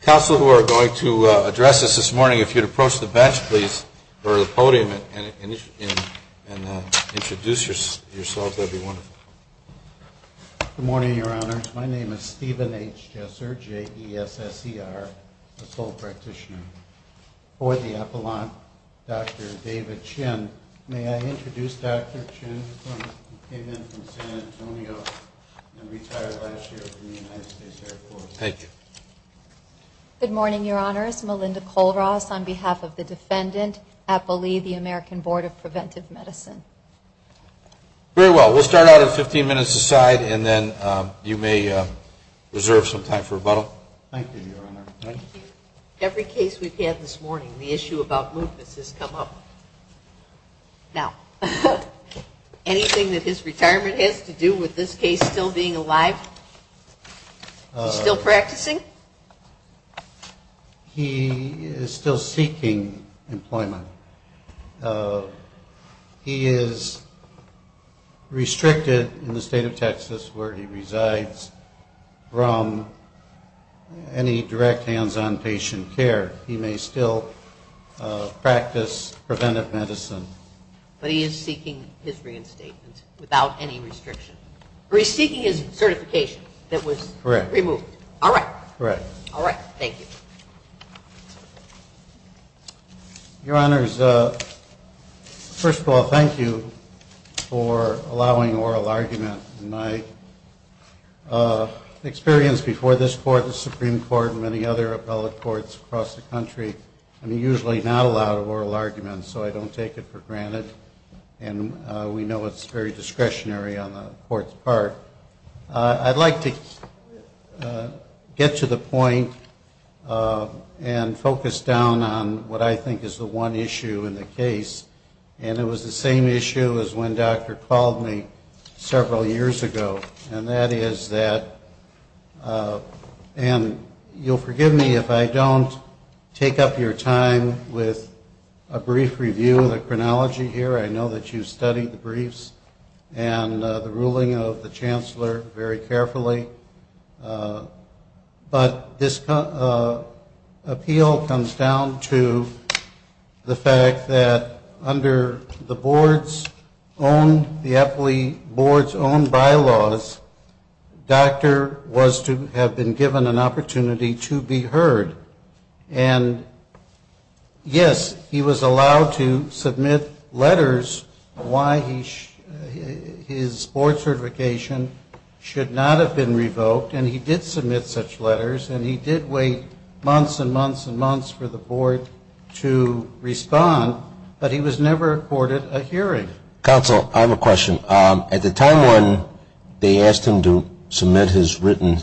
Council, who are going to address us this morning, if you'd approach the bench, please, or the podium, and introduce yourselves, that would be wonderful. Good morning, Your Honors. My name is Stephen H. Jesser, J-E-S-S-E-R, a sole practitioner. For the epilogue, Dr. David Chin. May I introduce Dr. Chin, who came in from San Antonio and retired last year from the United States Air Force. Thank you. Good morning, Your Honors. Melinda Colross on behalf of the defendant, Apple Lee, the American Board of Preventive Medicine. Very well. We'll start out at 15 minutes a side, and then you may reserve some time for rebuttal. Thank you, Your Honor. Every case we've had this morning, the issue about lupus has come up. Now, anything that his retirement has to do with this case still being alive? Is he still practicing? He is still seeking employment. He is restricted in the state of Texas where he resides from any direct hands-on patient care. He may still practice preventive medicine. But he is seeking his reinstatement without any restriction. He's seeking his certification that was removed. Correct. All right. Correct. All right. Thank you. Your Honors, first of all, thank you for allowing oral argument. In my experience before this Court, the Supreme Court, and many other appellate courts across the country, I'm usually not allowed oral arguments, so I don't take it for granted. And we know it's very discretionary on the Court's part. I'd like to get to the point and focus down on what I think is the one issue in the case. And it was the same issue as when Dr. called me several years ago. And that is that, and you'll forgive me if I don't take up your time with a brief review of the chronology here. I know that you've studied the briefs and the ruling of the Chancellor very carefully. But this appeal comes down to the fact that under the board's own, the appellate board's own bylaws, Dr. was to have been given an opportunity to be heard. And, yes, he was allowed to submit letters why his board certification should not have been revoked. And he did submit such letters, and he did wait months and months and months for the board to respond. But he was never accorded a hearing. Counsel, I have a question. At the time when they asked him to submit his written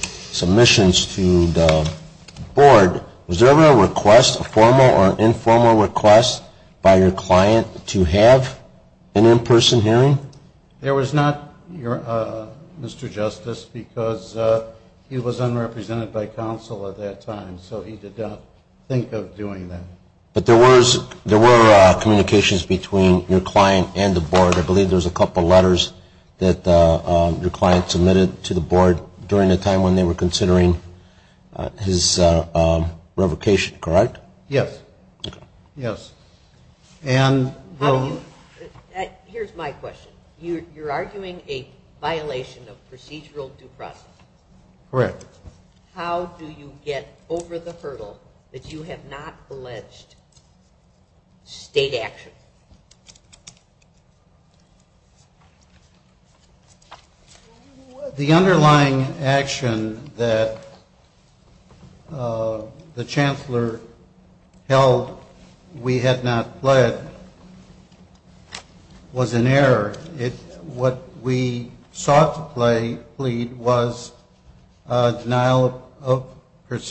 submissions to the board, was there ever a request, a formal or informal request by your client to have an in-person hearing? There was not, Mr. Justice, because he was unrepresented by counsel at that time. So he did not think of doing that. But there were communications between your client and the board. I believe there was a couple letters that your client submitted to the board during the time when they were considering his revocation. Correct? Yes. Okay. Yes. Here's my question. You're arguing a violation of procedural due process. Correct. How do you get over the hurdle that you have not alleged state action? The underlying action that the chancellor held we had not pled was an error. What we sought to plead was denial of,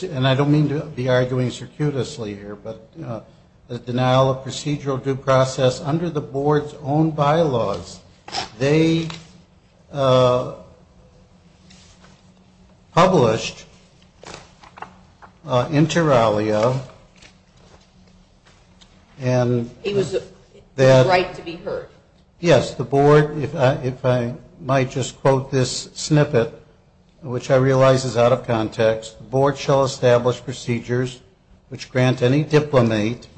and I don't mean to be arguing circuitously here, but the denial of procedural due process under the board's own bylaws. They published inter alia and that It was a right to be heard. Yes. The board, if I might just quote this snippet, which I realize is out of context, the board shall establish procedures which grant any diplomate,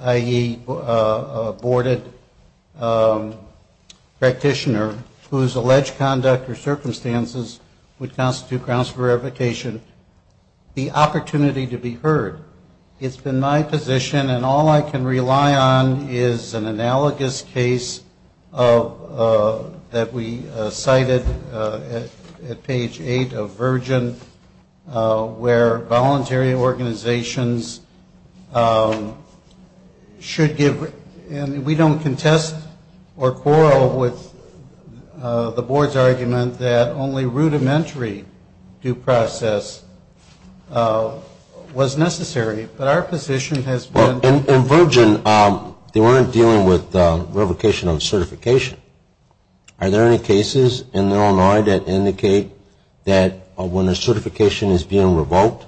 i.e., a boarded practitioner whose alleged conduct or circumstances would constitute grounds for revocation, the opportunity to be heard. It's been my position, and all I can rely on is an analogous case that we cited at page 8 of Virgin, where voluntary organizations should give, We don't contest or quarrel with the board's argument that only rudimentary due process was necessary, but our position has been In Virgin, they weren't dealing with revocation of certification. Are there any cases in Illinois that indicate that when a certification is being revoked,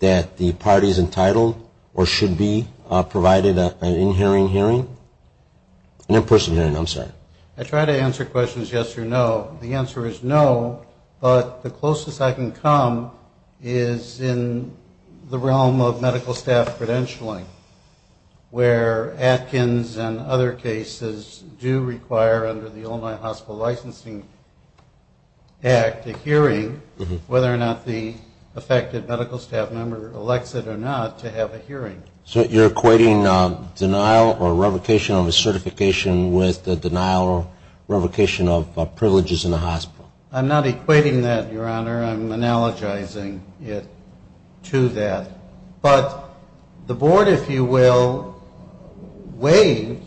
that the party is entitled or should be provided an in-person hearing? I try to answer questions yes or no. The answer is no, but the closest I can come is in the realm of medical staff credentialing, where Atkins and other cases do require, under the Illinois Hospital Licensing Act, a hearing, whether or not the affected medical staff member elects it or not, to have a hearing. So you're equating denial or revocation of a certification with the denial or revocation of privileges in a hospital? I'm not equating that, Your Honor. I'm analogizing it to that. But the board, if you will, waived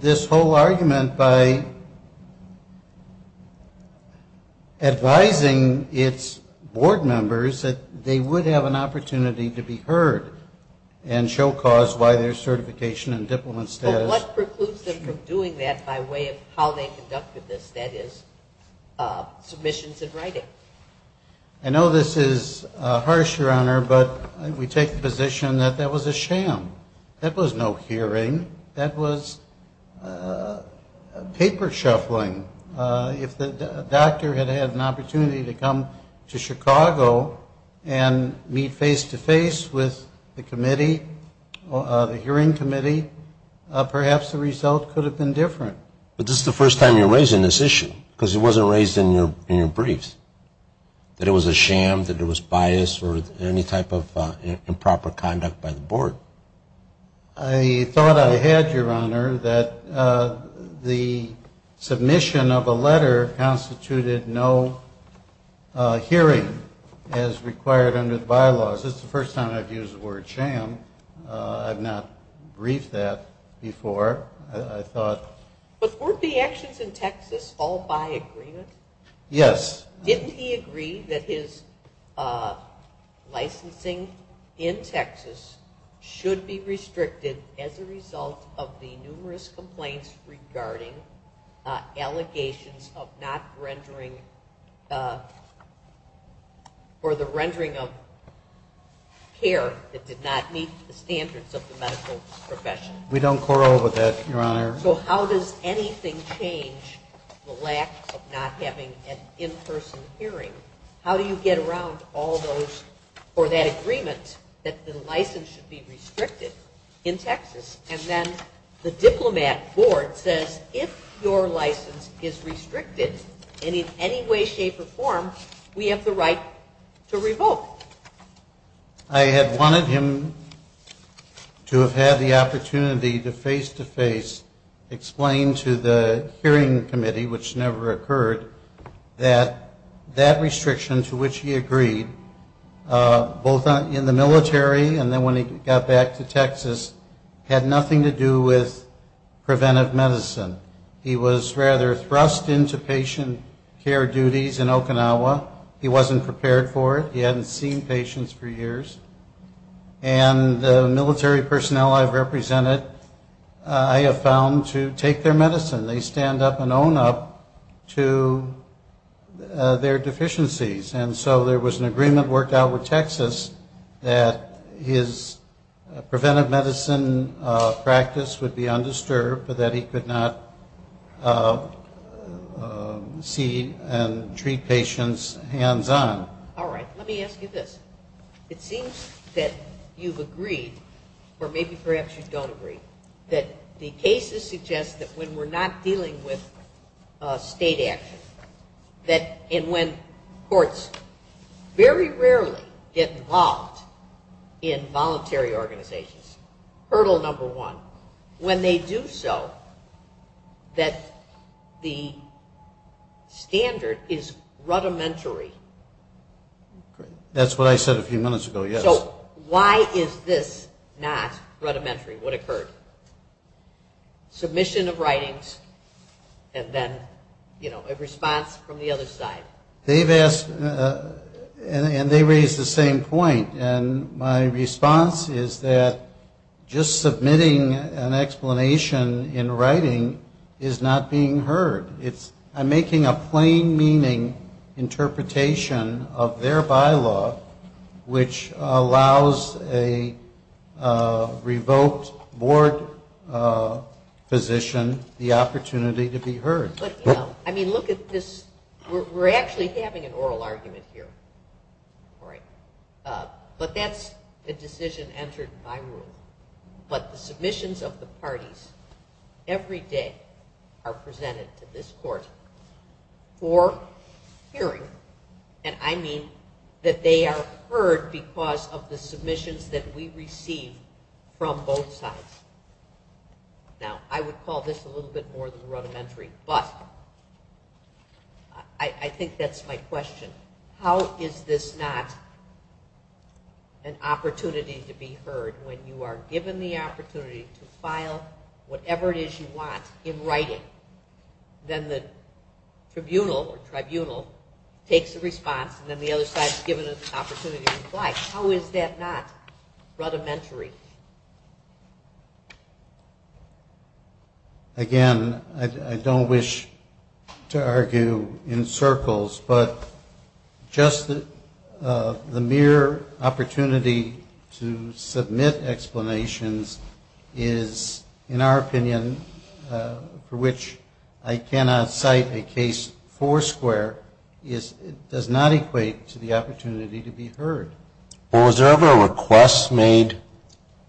this whole argument by advising its board members that they would have an opportunity to be heard and show cause why their certification and diplomat status But what precludes them from doing that by way of how they conducted this, that is, submissions in writing? I know this is harsh, Your Honor, but we take the position that that was a sham. That was no hearing. That was paper shuffling. If the doctor had had an opportunity to come to Chicago and meet face-to-face with the committee, the hearing committee, perhaps the result could have been different. But this is the first time you're raising this issue because it wasn't raised in your briefs, that it was a sham, that it was biased or any type of improper conduct by the board. I thought I had, Your Honor, that the submission of a letter constituted no hearing as required under the bylaws. This is the first time I've used the word sham. I've not briefed that before. But weren't the actions in Texas all by agreement? Yes. Didn't he agree that his licensing in Texas should be restricted as a result of the numerous complaints regarding allegations of not rendering or the rendering of care that did not meet the standards of the medical profession? We don't quarrel with that, Your Honor. So how does anything change the lack of not having an in-person hearing? How do you get around all those or that agreement that the license should be restricted in Texas? And then the diplomat board says if your license is restricted in any way, shape, or form, we have the right to revoke. I had wanted him to have had the opportunity to face-to-face explain to the hearing committee, which never occurred, that that restriction to which he agreed, both in the military and then when he got back to Texas, had nothing to do with preventive medicine. He was rather thrust into patient care duties in Okinawa. He wasn't prepared for it. He hadn't seen patients for years. And the military personnel I've represented I have found to take their medicine. They stand up and own up to their deficiencies. And so there was an agreement worked out with Texas that his preventive medicine practice would be undisturbed, but that he could not see and treat patients hands-on. All right. Let me ask you this. It seems that you've agreed, or maybe perhaps you don't agree, that the cases suggest that when we're not dealing with state action, and when courts very rarely get involved in voluntary organizations, hurdle number one, when they do so, that the standard is rudimentary. That's what I said a few minutes ago, yes. So why is this not rudimentary? What occurred? Submission of writings and then, you know, a response from the other side. They've asked, and they raised the same point. And my response is that just submitting an explanation in writing is not being heard. I'm making a plain meaning interpretation of their bylaw, which allows a revoked board position the opportunity to be heard. I mean, look at this. We're actually having an oral argument here. But that's a decision entered by rule. But the submissions of the parties every day are presented to this court for hearing, and I mean that they are heard because of the submissions that we receive from both sides. Now, I would call this a little bit more than rudimentary. But I think that's my question. How is this not an opportunity to be heard when you are given the opportunity to file whatever it is you want in writing? Then the tribunal takes a response, and then the other side is given an opportunity to reply. How is that not rudimentary? Again, I don't wish to argue in circles, but just the mere opportunity to submit explanations is, in our opinion, for which I cannot cite a case for square does not equate to the opportunity to be heard. Well, was there ever a request made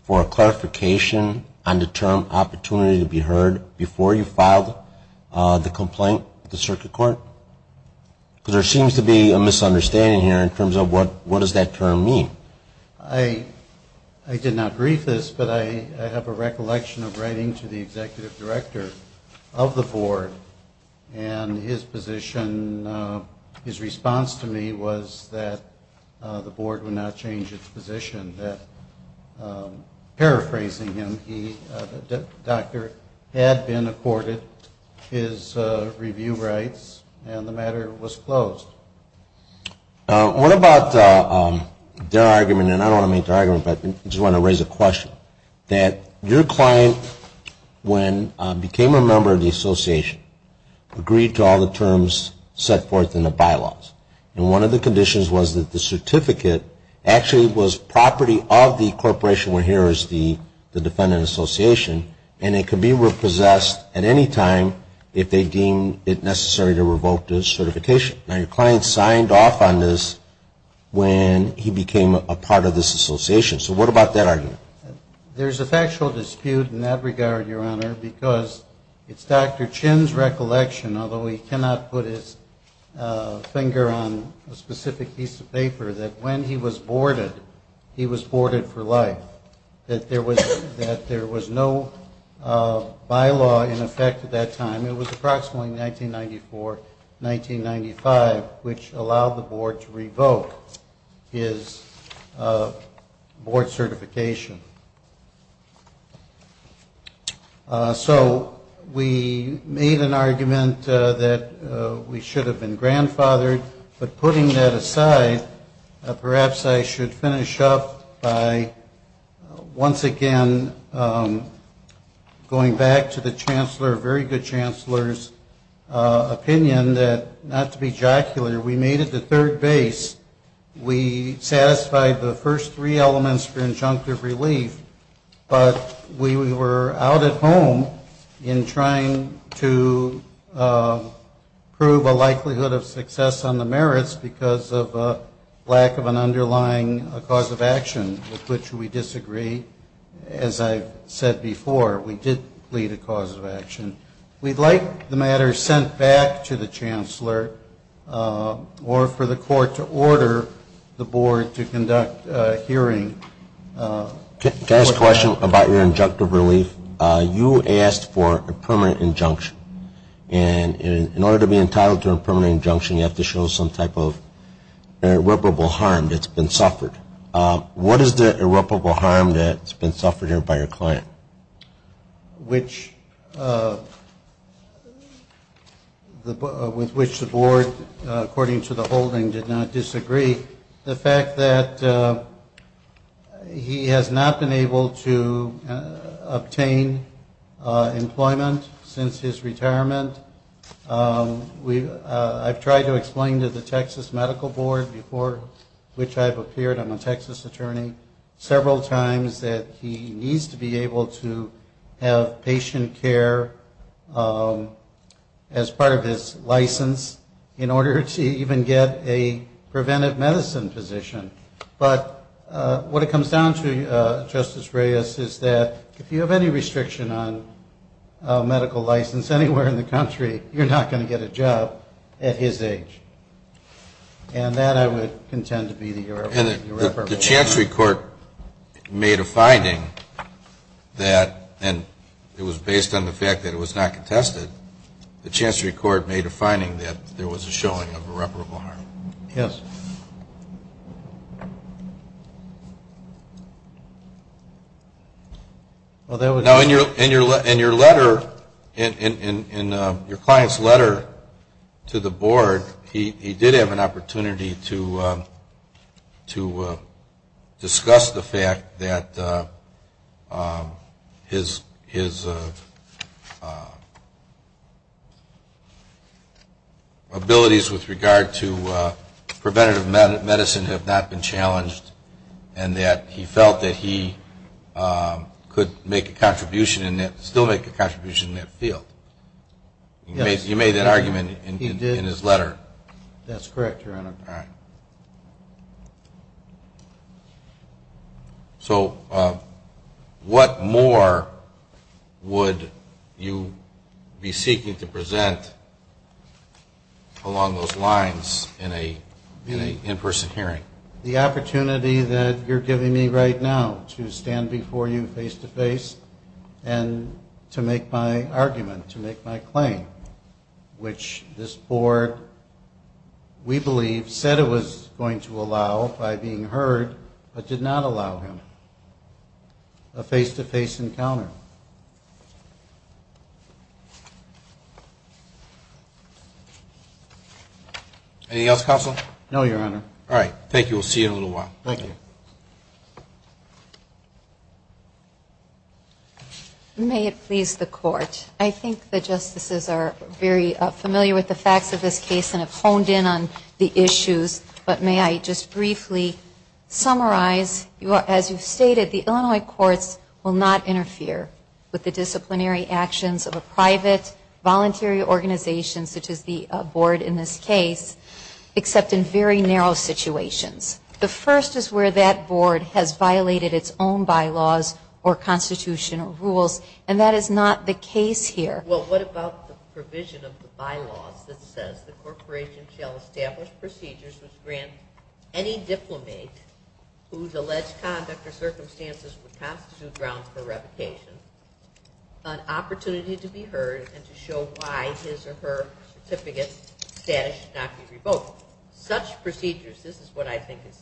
for a clarification on the term opportunity to be heard before you filed the complaint with the circuit court? Because there seems to be a misunderstanding here in terms of what does that term mean. I did not brief this, but I have a recollection of writing to the executive director of the board, and his response to me was that the board would not change its position. Paraphrasing him, the doctor had been accorded his review rights, and the matter was closed. What about their argument, and I don't want to make their argument, but I just want to raise a question, that your client, when became a member of the association, agreed to all the terms set forth in the bylaws, and one of the conditions was that the certificate actually was property of the corporation where here is the defendant association, and it could be repossessed at any time if they deemed it necessary to revoke the certification. Now, your client signed off on this when he became a part of this association. So what about that argument? There's a factual dispute in that regard, Your Honor, because it's Dr. Chin's recollection, although he cannot put his finger on a specific piece of paper, that when he was boarded, he was boarded for life, that there was no bylaw in effect at that time. It was approximately 1994, 1995, which allowed the board to revoke his board certification. So we made an argument that we should have been grandfathered, but putting that aside, perhaps I should finish up by once again going back to the Chancellor, a very good Chancellor's opinion that, not to be jocular, we made it to third base. We satisfied the first three elements for injunctive relief, but we were out at home in trying to prove a likelihood of success on the merits because of lack of an underlying cause of action, with which we disagree. As I've said before, we did plead a cause of action. We'd like the matter sent back to the Chancellor or for the court to order the board to conduct a hearing. Can I ask a question about your injunctive relief? You asked for a permanent injunction, and in order to be entitled to a permanent injunction, you have to show some type of irreparable harm that's been suffered. What is the irreparable harm that's been suffered here by your client? With which the board, according to the holding, did not disagree. The fact that he has not been able to obtain employment since his retirement. I've tried to explain to the Texas Medical Board, before which I've appeared, I'm a Texas attorney, several times that he needs to be able to have patient care as part of his license in order to even get a preventive medicine position. But what it comes down to, Justice Reyes, is that if you have any restriction on medical license anywhere in the country, you're not going to get a job at his age. And that I would contend to be the irreparable harm. The Chancery Court made a finding that, and it was based on the fact that it was not contested, the Chancery Court made a finding that there was a showing of irreparable harm. Yes. Now, in your letter, in your client's letter to the board, he did have an opportunity to discuss the fact that his abilities with regard to preventative medicine have not been challenged and that he felt that he could still make a contribution in that field. You made that argument in his letter. That's correct, Your Honor. All right. So what more would you be seeking to present along those lines in an in-person hearing? The opportunity that you're giving me right now to stand before you face-to-face and to make my argument, to make my claim, which this board, we believe, said it was going to allow by being heard but did not allow him, a face-to-face encounter. Anything else, Counsel? No, Your Honor. All right. Thank you. We'll see you in a little while. Thank you. May it please the Court, I think the justices are very familiar with the facts of this case and have honed in on the issues, but may I just briefly summarize. As you've stated, the Illinois courts will not interfere with the disciplinary actions of a private, voluntary organization such as the board in this case, except in very narrow situations. The first is where that board has violated its own bylaws or constitutional rules, and that is not the case here. Well, what about the provision of the bylaws that says, the corporation shall establish procedures which grant any diplomate whose alleged conduct or circumstances would constitute grounds for revocation an opportunity to be heard and to show why his or her certificate status should not be revoked. Such procedures, this is what I think is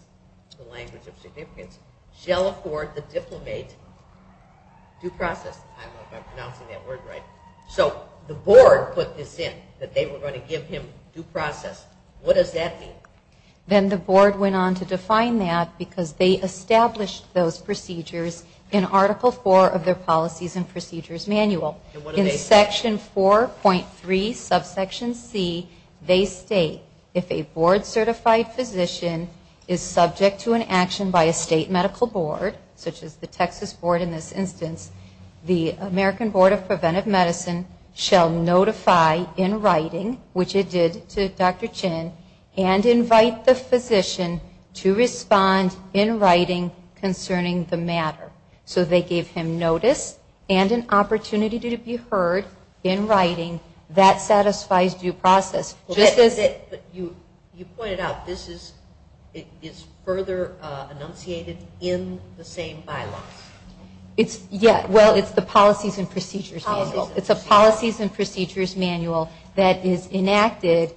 the language of significance, shall afford the diplomate due process. I don't know if I'm pronouncing that word right. So the board put this in, that they were going to give him due process. What does that mean? Then the board went on to define that because they established those procedures in Article IV of their Policies and Procedures Manual. In Section 4.3, Subsection C, they state, if a board-certified physician is subject to an action by a state medical board, such as the Texas board in this instance, the American Board of Preventive Medicine shall notify in writing, which it did to Dr. Chin, and invite the physician to respond in writing concerning the matter. So they gave him notice and an opportunity to be heard in writing. That satisfies due process. You pointed out this is further enunciated in the same bylaws. Well, it's the Policies and Procedures Manual. It's a Policies and Procedures Manual that is enacted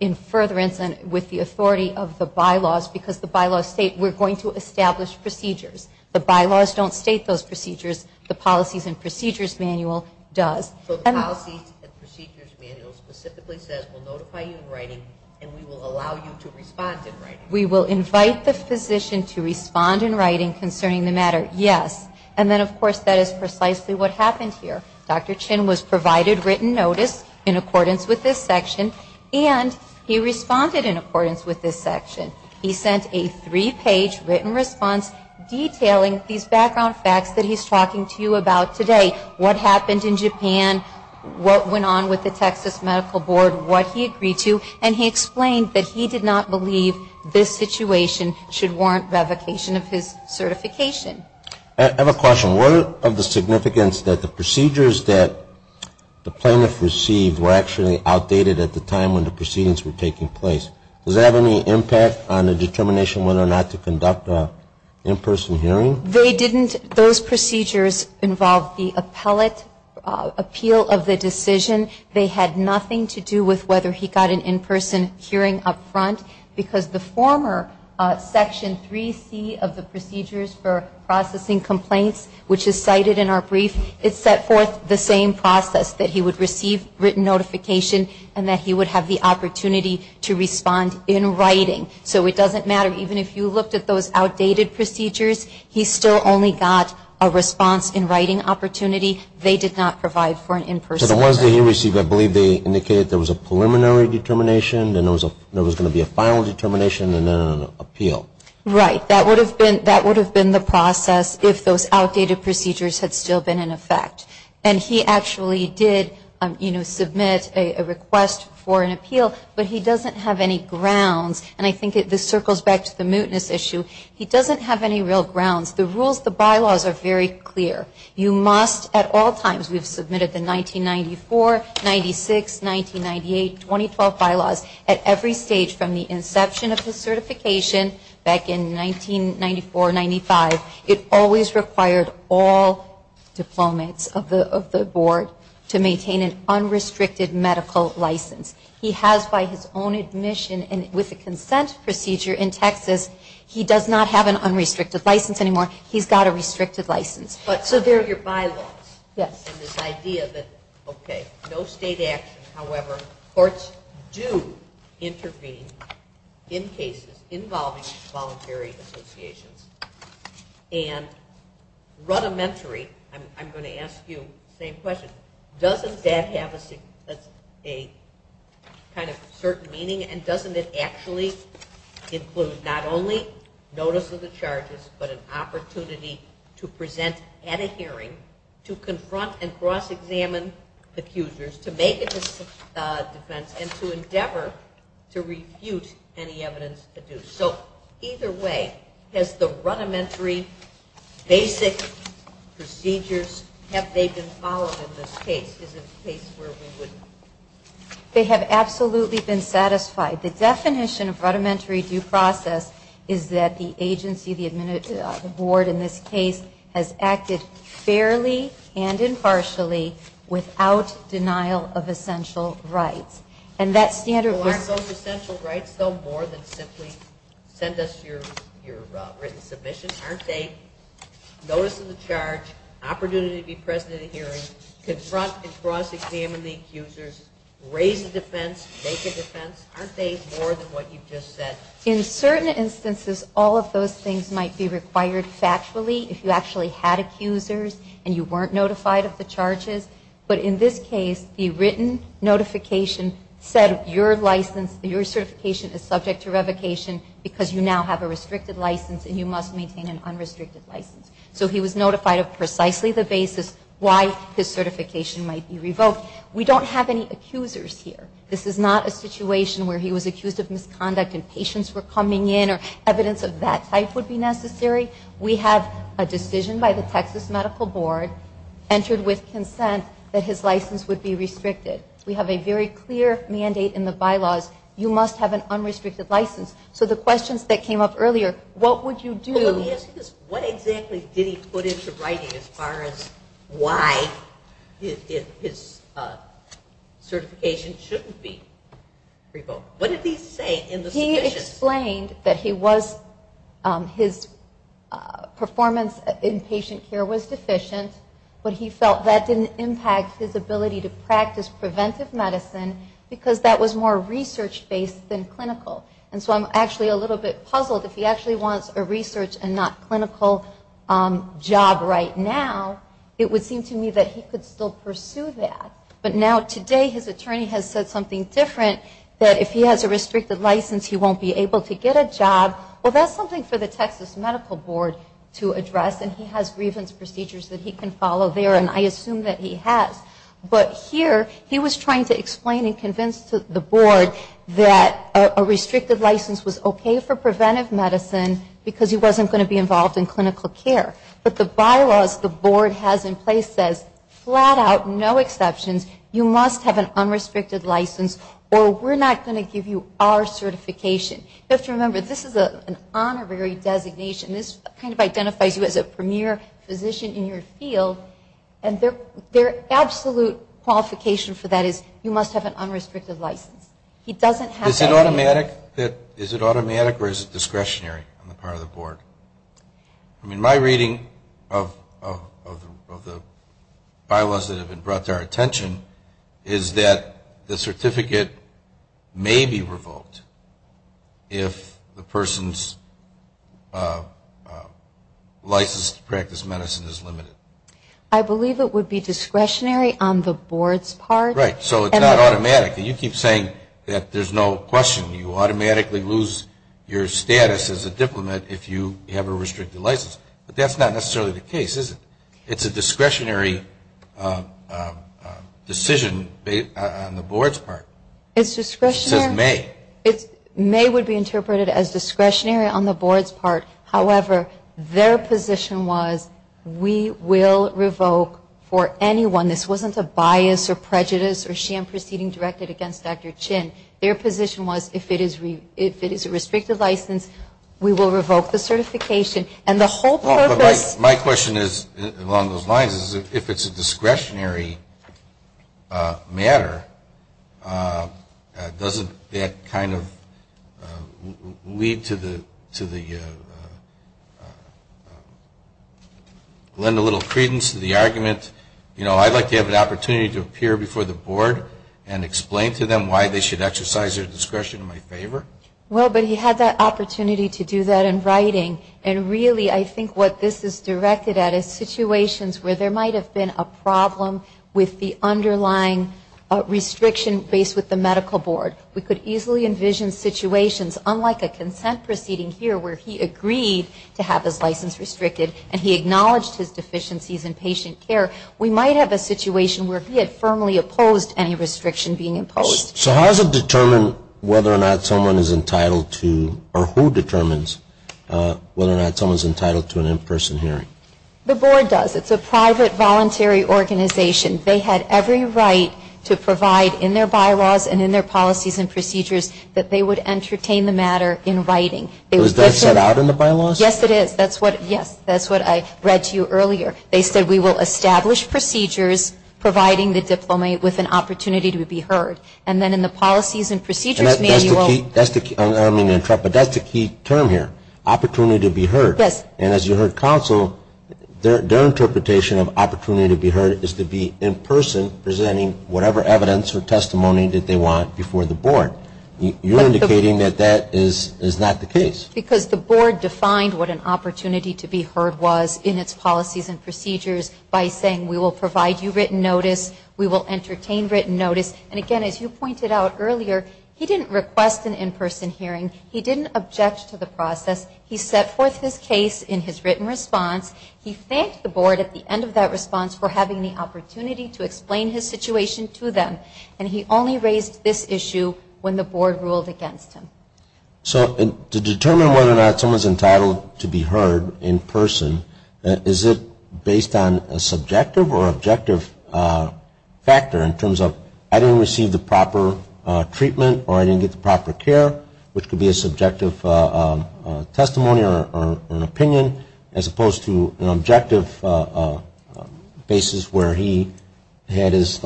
in further instance with the authority of the bylaws because the bylaws state we're going to establish procedures. The bylaws don't state those procedures. The Policies and Procedures Manual does. So the Policies and Procedures Manual specifically says we'll notify you in writing and we will allow you to respond in writing. We will invite the physician to respond in writing concerning the matter. Yes. And then, of course, that is precisely what happened here. Dr. Chin was provided written notice in accordance with this section, and he responded in accordance with this section. He sent a three-page written response detailing these background facts that he's talking to you about today. What happened in Japan, what went on with the Texas Medical Board, what he agreed to, and he explained that he did not believe this situation should warrant revocation of his certification. I have a question. What of the significance that the procedures that the plaintiff received were actually outdated at the time when the proceedings were taking place? Does that have any impact on the determination whether or not to conduct an in-person hearing? They didn't. Those procedures involved the appellate appeal of the decision. They had nothing to do with whether he got an in-person hearing up front because the former Section 3C of the Procedures for Processing Complaints, which is cited in our brief, it set forth the same process that he would receive written notification and that he would have the opportunity to respond in writing. So it doesn't matter. Even if you looked at those outdated procedures, he still only got a response in writing opportunity. They did not provide for an in-person hearing. So the ones that he received, I believe they indicated there was a preliminary determination and there was going to be a final determination and then an appeal. Right. That would have been the process if those outdated procedures had still been in effect. And he actually did submit a request for an appeal, but he doesn't have any grounds. And I think this circles back to the mootness issue. He doesn't have any real grounds. The rules, the bylaws are very clear. You must at all times, we've submitted the 1994, 96, 1998, 2012 bylaws, at every stage from the inception of the certification back in 1994, 95, it always required all diplomats of the board to maintain an unrestricted medical license. He has by his own admission and with the consent procedure in Texas, he does not have an unrestricted license anymore. He's got a restricted license. So there are your bylaws. Yes. And this idea that, okay, no state action. However, courts do intervene in cases involving voluntary associations. And rudimentary, I'm going to ask you the same question, doesn't that have a kind of certain meaning? And doesn't it actually include not only notice of the charges, but an opportunity to present at a hearing to confront and cross-examine the accusers, to make a defense, and to endeavor to refute any evidence adduced? So either way, has the rudimentary basic procedures, have they been followed in this case? Is it a case where we wouldn't? They have absolutely been satisfied. The definition of rudimentary due process is that the agency, the board in this case, has acted fairly and impartially without denial of essential rights. Well, aren't those essential rights, though, more than simply send us your written submission? Aren't they notice of the charge, opportunity to be present at a hearing, confront and cross-examine the accusers, raise a defense, make a defense? Aren't they more than what you just said? In certain instances, all of those things might be required factually, if you actually had accusers and you weren't notified of the charges. But in this case, the written notification said your license, your certification is subject to revocation because you now have a restricted license and you must maintain an unrestricted license. So he was notified of precisely the basis why his certification might be revoked. We don't have any accusers here. This is not a situation where he was accused of misconduct and patients were coming in or evidence of that type would be necessary. We have a decision by the Texas Medical Board entered with consent that his license would be restricted. We have a very clear mandate in the bylaws. You must have an unrestricted license. So the questions that came up earlier, what would you do? Well, let me ask you this. What exactly did he put into writing as far as why his certification shouldn't be revoked? What did he say in the submissions? He explained that his performance in patient care was deficient, but he felt that didn't impact his ability to practice preventive medicine because that was more research-based than clinical. And so I'm actually a little bit puzzled. If he actually wants a research and not clinical job right now, it would seem to me that he could still pursue that. But now today his attorney has said something different, that if he has a restricted license he won't be able to get a job. Well, that's something for the Texas Medical Board to address, and he has grievance procedures that he can follow there, and I assume that he has. But here he was trying to explain and convince the board that a restricted license was okay for preventive medicine because he wasn't going to be involved in clinical care. But the bylaws the board has in place says flat out, no exceptions. You must have an unrestricted license or we're not going to give you our certification. You have to remember, this is an honorary designation. This kind of identifies you as a premier physician in your field, and their absolute qualification for that is you must have an unrestricted license. He doesn't have that. Is it automatic or is it discretionary on the part of the board? I mean, my reading of the bylaws that have been brought to our attention is that the certificate may be revoked if the person's license to practice medicine is limited. I believe it would be discretionary on the board's part. Right. So it's not automatic. You keep saying that there's no question. You automatically lose your status as a diplomat if you have a restricted license. But that's not necessarily the case, is it? It's a discretionary decision on the board's part. It's discretionary. It says may. May would be interpreted as discretionary on the board's part. However, their position was we will revoke for anyone. This wasn't a bias or prejudice or sham proceeding directed against Dr. Chin. Their position was if it is a restricted license, we will revoke the certification. And the whole purpose. My question is, along those lines, is if it's a discretionary matter, doesn't that kind of lead to the lend a little credence to the argument? You know, I'd like to have an opportunity to appear before the board and explain to them why they should exercise their discretion in my favor. Well, but he had that opportunity to do that in writing. And really, I think what this is directed at is situations where there might have been a problem with the underlying restriction based with the medical board. We could easily envision situations, unlike a consent proceeding here, where he agreed to have his license restricted and he acknowledged his deficiencies in patient care, we might have a situation where he had firmly opposed any restriction being imposed. So how does it determine whether or not someone is entitled to or who determines whether or not someone is entitled to an in-person hearing? The board does. It's a private voluntary organization. They had every right to provide in their bylaws and in their policies and procedures that they would entertain the matter in writing. Was that set out in the bylaws? Yes, it is. That's what, yes, that's what I read to you earlier. They said we will establish procedures providing the diplomat with an opportunity to be heard. And then in the policies and procedures manual. That's the key term here, opportunity to be heard. Yes. And as you heard counsel, their interpretation of opportunity to be heard is to be in person presenting whatever evidence or testimony that they want before the board. You're indicating that that is not the case. Because the board defined what an opportunity to be heard was in its policies and procedures by saying we will provide you written notice, we will entertain written notice. And, again, as you pointed out earlier, he didn't request an in-person hearing. He didn't object to the process. He set forth his case in his written response. He thanked the board at the end of that response for having the opportunity to explain his situation to them. And he only raised this issue when the board ruled against him. So to determine whether or not someone is entitled to be heard in person, is it based on a subjective or objective factor in terms of I didn't receive the proper treatment or I didn't get the proper care, which could be a subjective testimony or an opinion, as opposed to an objective basis where he had his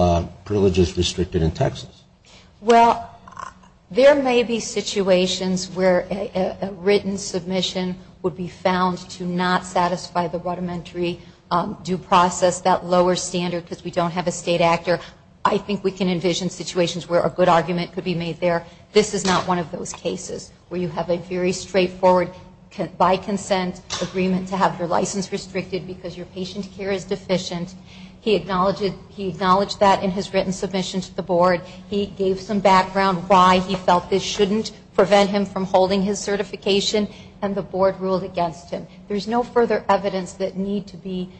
privileges restricted in Texas? Well, there may be situations where a written submission would be found to not satisfy the rudimentary due process, that lower standard because we don't have a state actor. I think we can envision situations where a good argument could be made there. This is not one of those cases where you have a very straightforward by-consent agreement to have your license restricted because your patient care is deficient. He acknowledged that in his written submission to the board. He gave some background why he felt this shouldn't prevent him from holding his certification, and the board ruled against him. There's no further evidence that need to be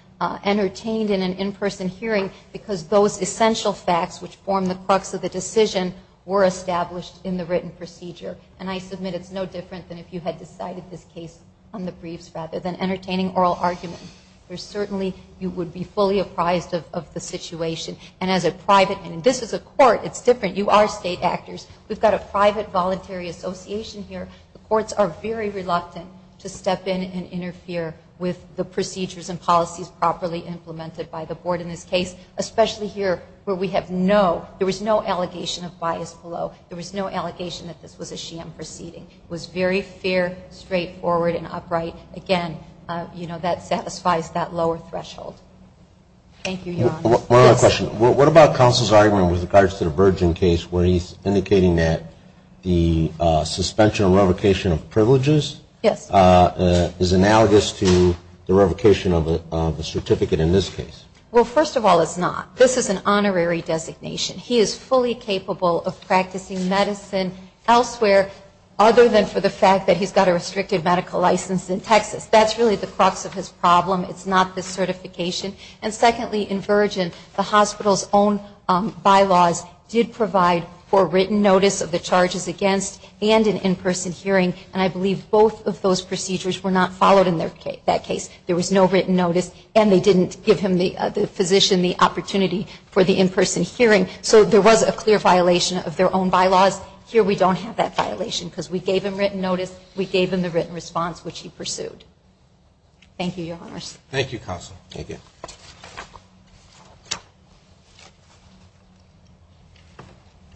entertained in an in-person hearing because those essential facts, which form the crux of the decision, were established in the written procedure. And I submit it's no different than if you had decided this case on the briefs rather than entertaining oral argument. There's certainly, you would be fully apprised of the situation. And this is a court. It's different. You are state actors. We've got a private voluntary association here. The courts are very reluctant to step in and interfere with the procedures and policies properly implemented by the board in this case, especially here where there was no allegation of bias below. There was no allegation that this was a sham proceeding. It was very fair, straightforward, and upright. Again, that satisfies that lower threshold. Thank you, Your Honor. One other question. What about counsel's argument with regards to the Virgin case where he's indicating that the suspension or revocation of privileges is analogous to the revocation of a certificate in this case? Well, first of all, it's not. This is an honorary designation. He is fully capable of practicing medicine elsewhere, other than for the fact that he's got a restricted medical license in Texas. That's really the crux of his problem. It's not the certification. And secondly, in Virgin, the hospital's own bylaws did provide for written notice of the charges against and an in-person hearing, and I believe both of those procedures were not followed in that case. There was no written notice, and they didn't give him, the physician, the opportunity for the in-person hearing. So there was a clear violation of their own bylaws. Here we don't have that violation because we gave him written notice. We gave him the written response, which he pursued. Thank you, Your Honors. Thank you, counsel. Thank you.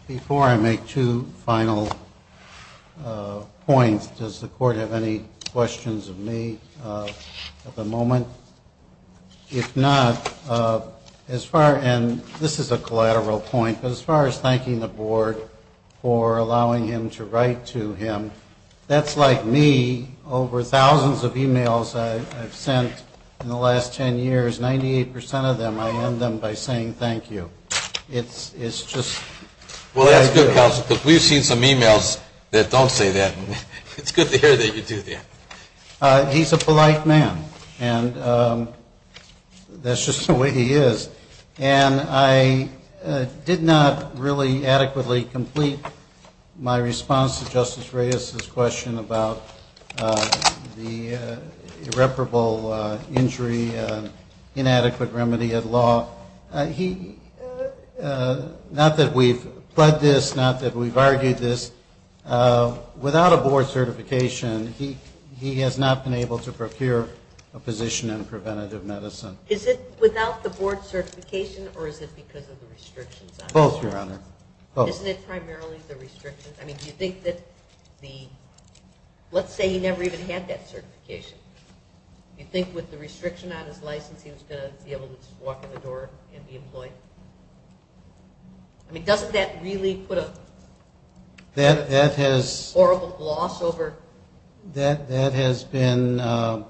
Before I make two final points, does the Court have any questions of me at the moment? If not, as far as ‑‑ and this is a collateral point, but as far as thanking the Board for allowing him to write to him, that's like me, over thousands of e-mails I've sent in the last ten years, 98% of them I end them by saying thank you. It's just ‑‑ Well, that's good, counsel, because we've seen some e-mails that don't say that. It's good to hear that you do that. He's a polite man, and that's just the way he is. And I did not really adequately complete my response to Justice Reyes's question about the irreparable injury, inadequate remedy at law. He ‑‑ not that we've pled this, not that we've argued this, without a Board certification, he has not been able to procure a position in preventative medicine. Is it without the Board certification, or is it because of the restrictions? Both, Your Honor. Isn't it primarily the restrictions? I mean, do you think that the ‑‑ let's say he never even had that certification. Do you think with the restriction on his license he was going to be able to just walk in the door and be employed? I mean, doesn't that really put a horrible gloss over? That has been a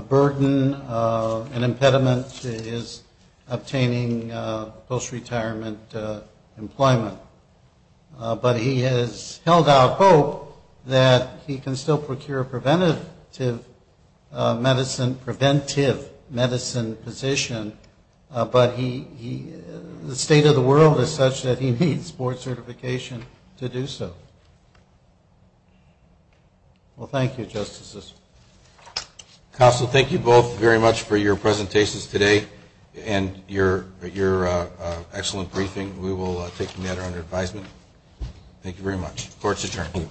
burden, an impediment to his obtaining post‑retirement employment. But he has held out hope that he can still procure preventative medicine, preventive medicine position, but the state of the world is such that he needs Board certification to do so. Well, thank you, Justices. Counsel, thank you both very much for your presentations today and your excellent briefing. We will take the matter under advisement. Thank you very much. Court is adjourned.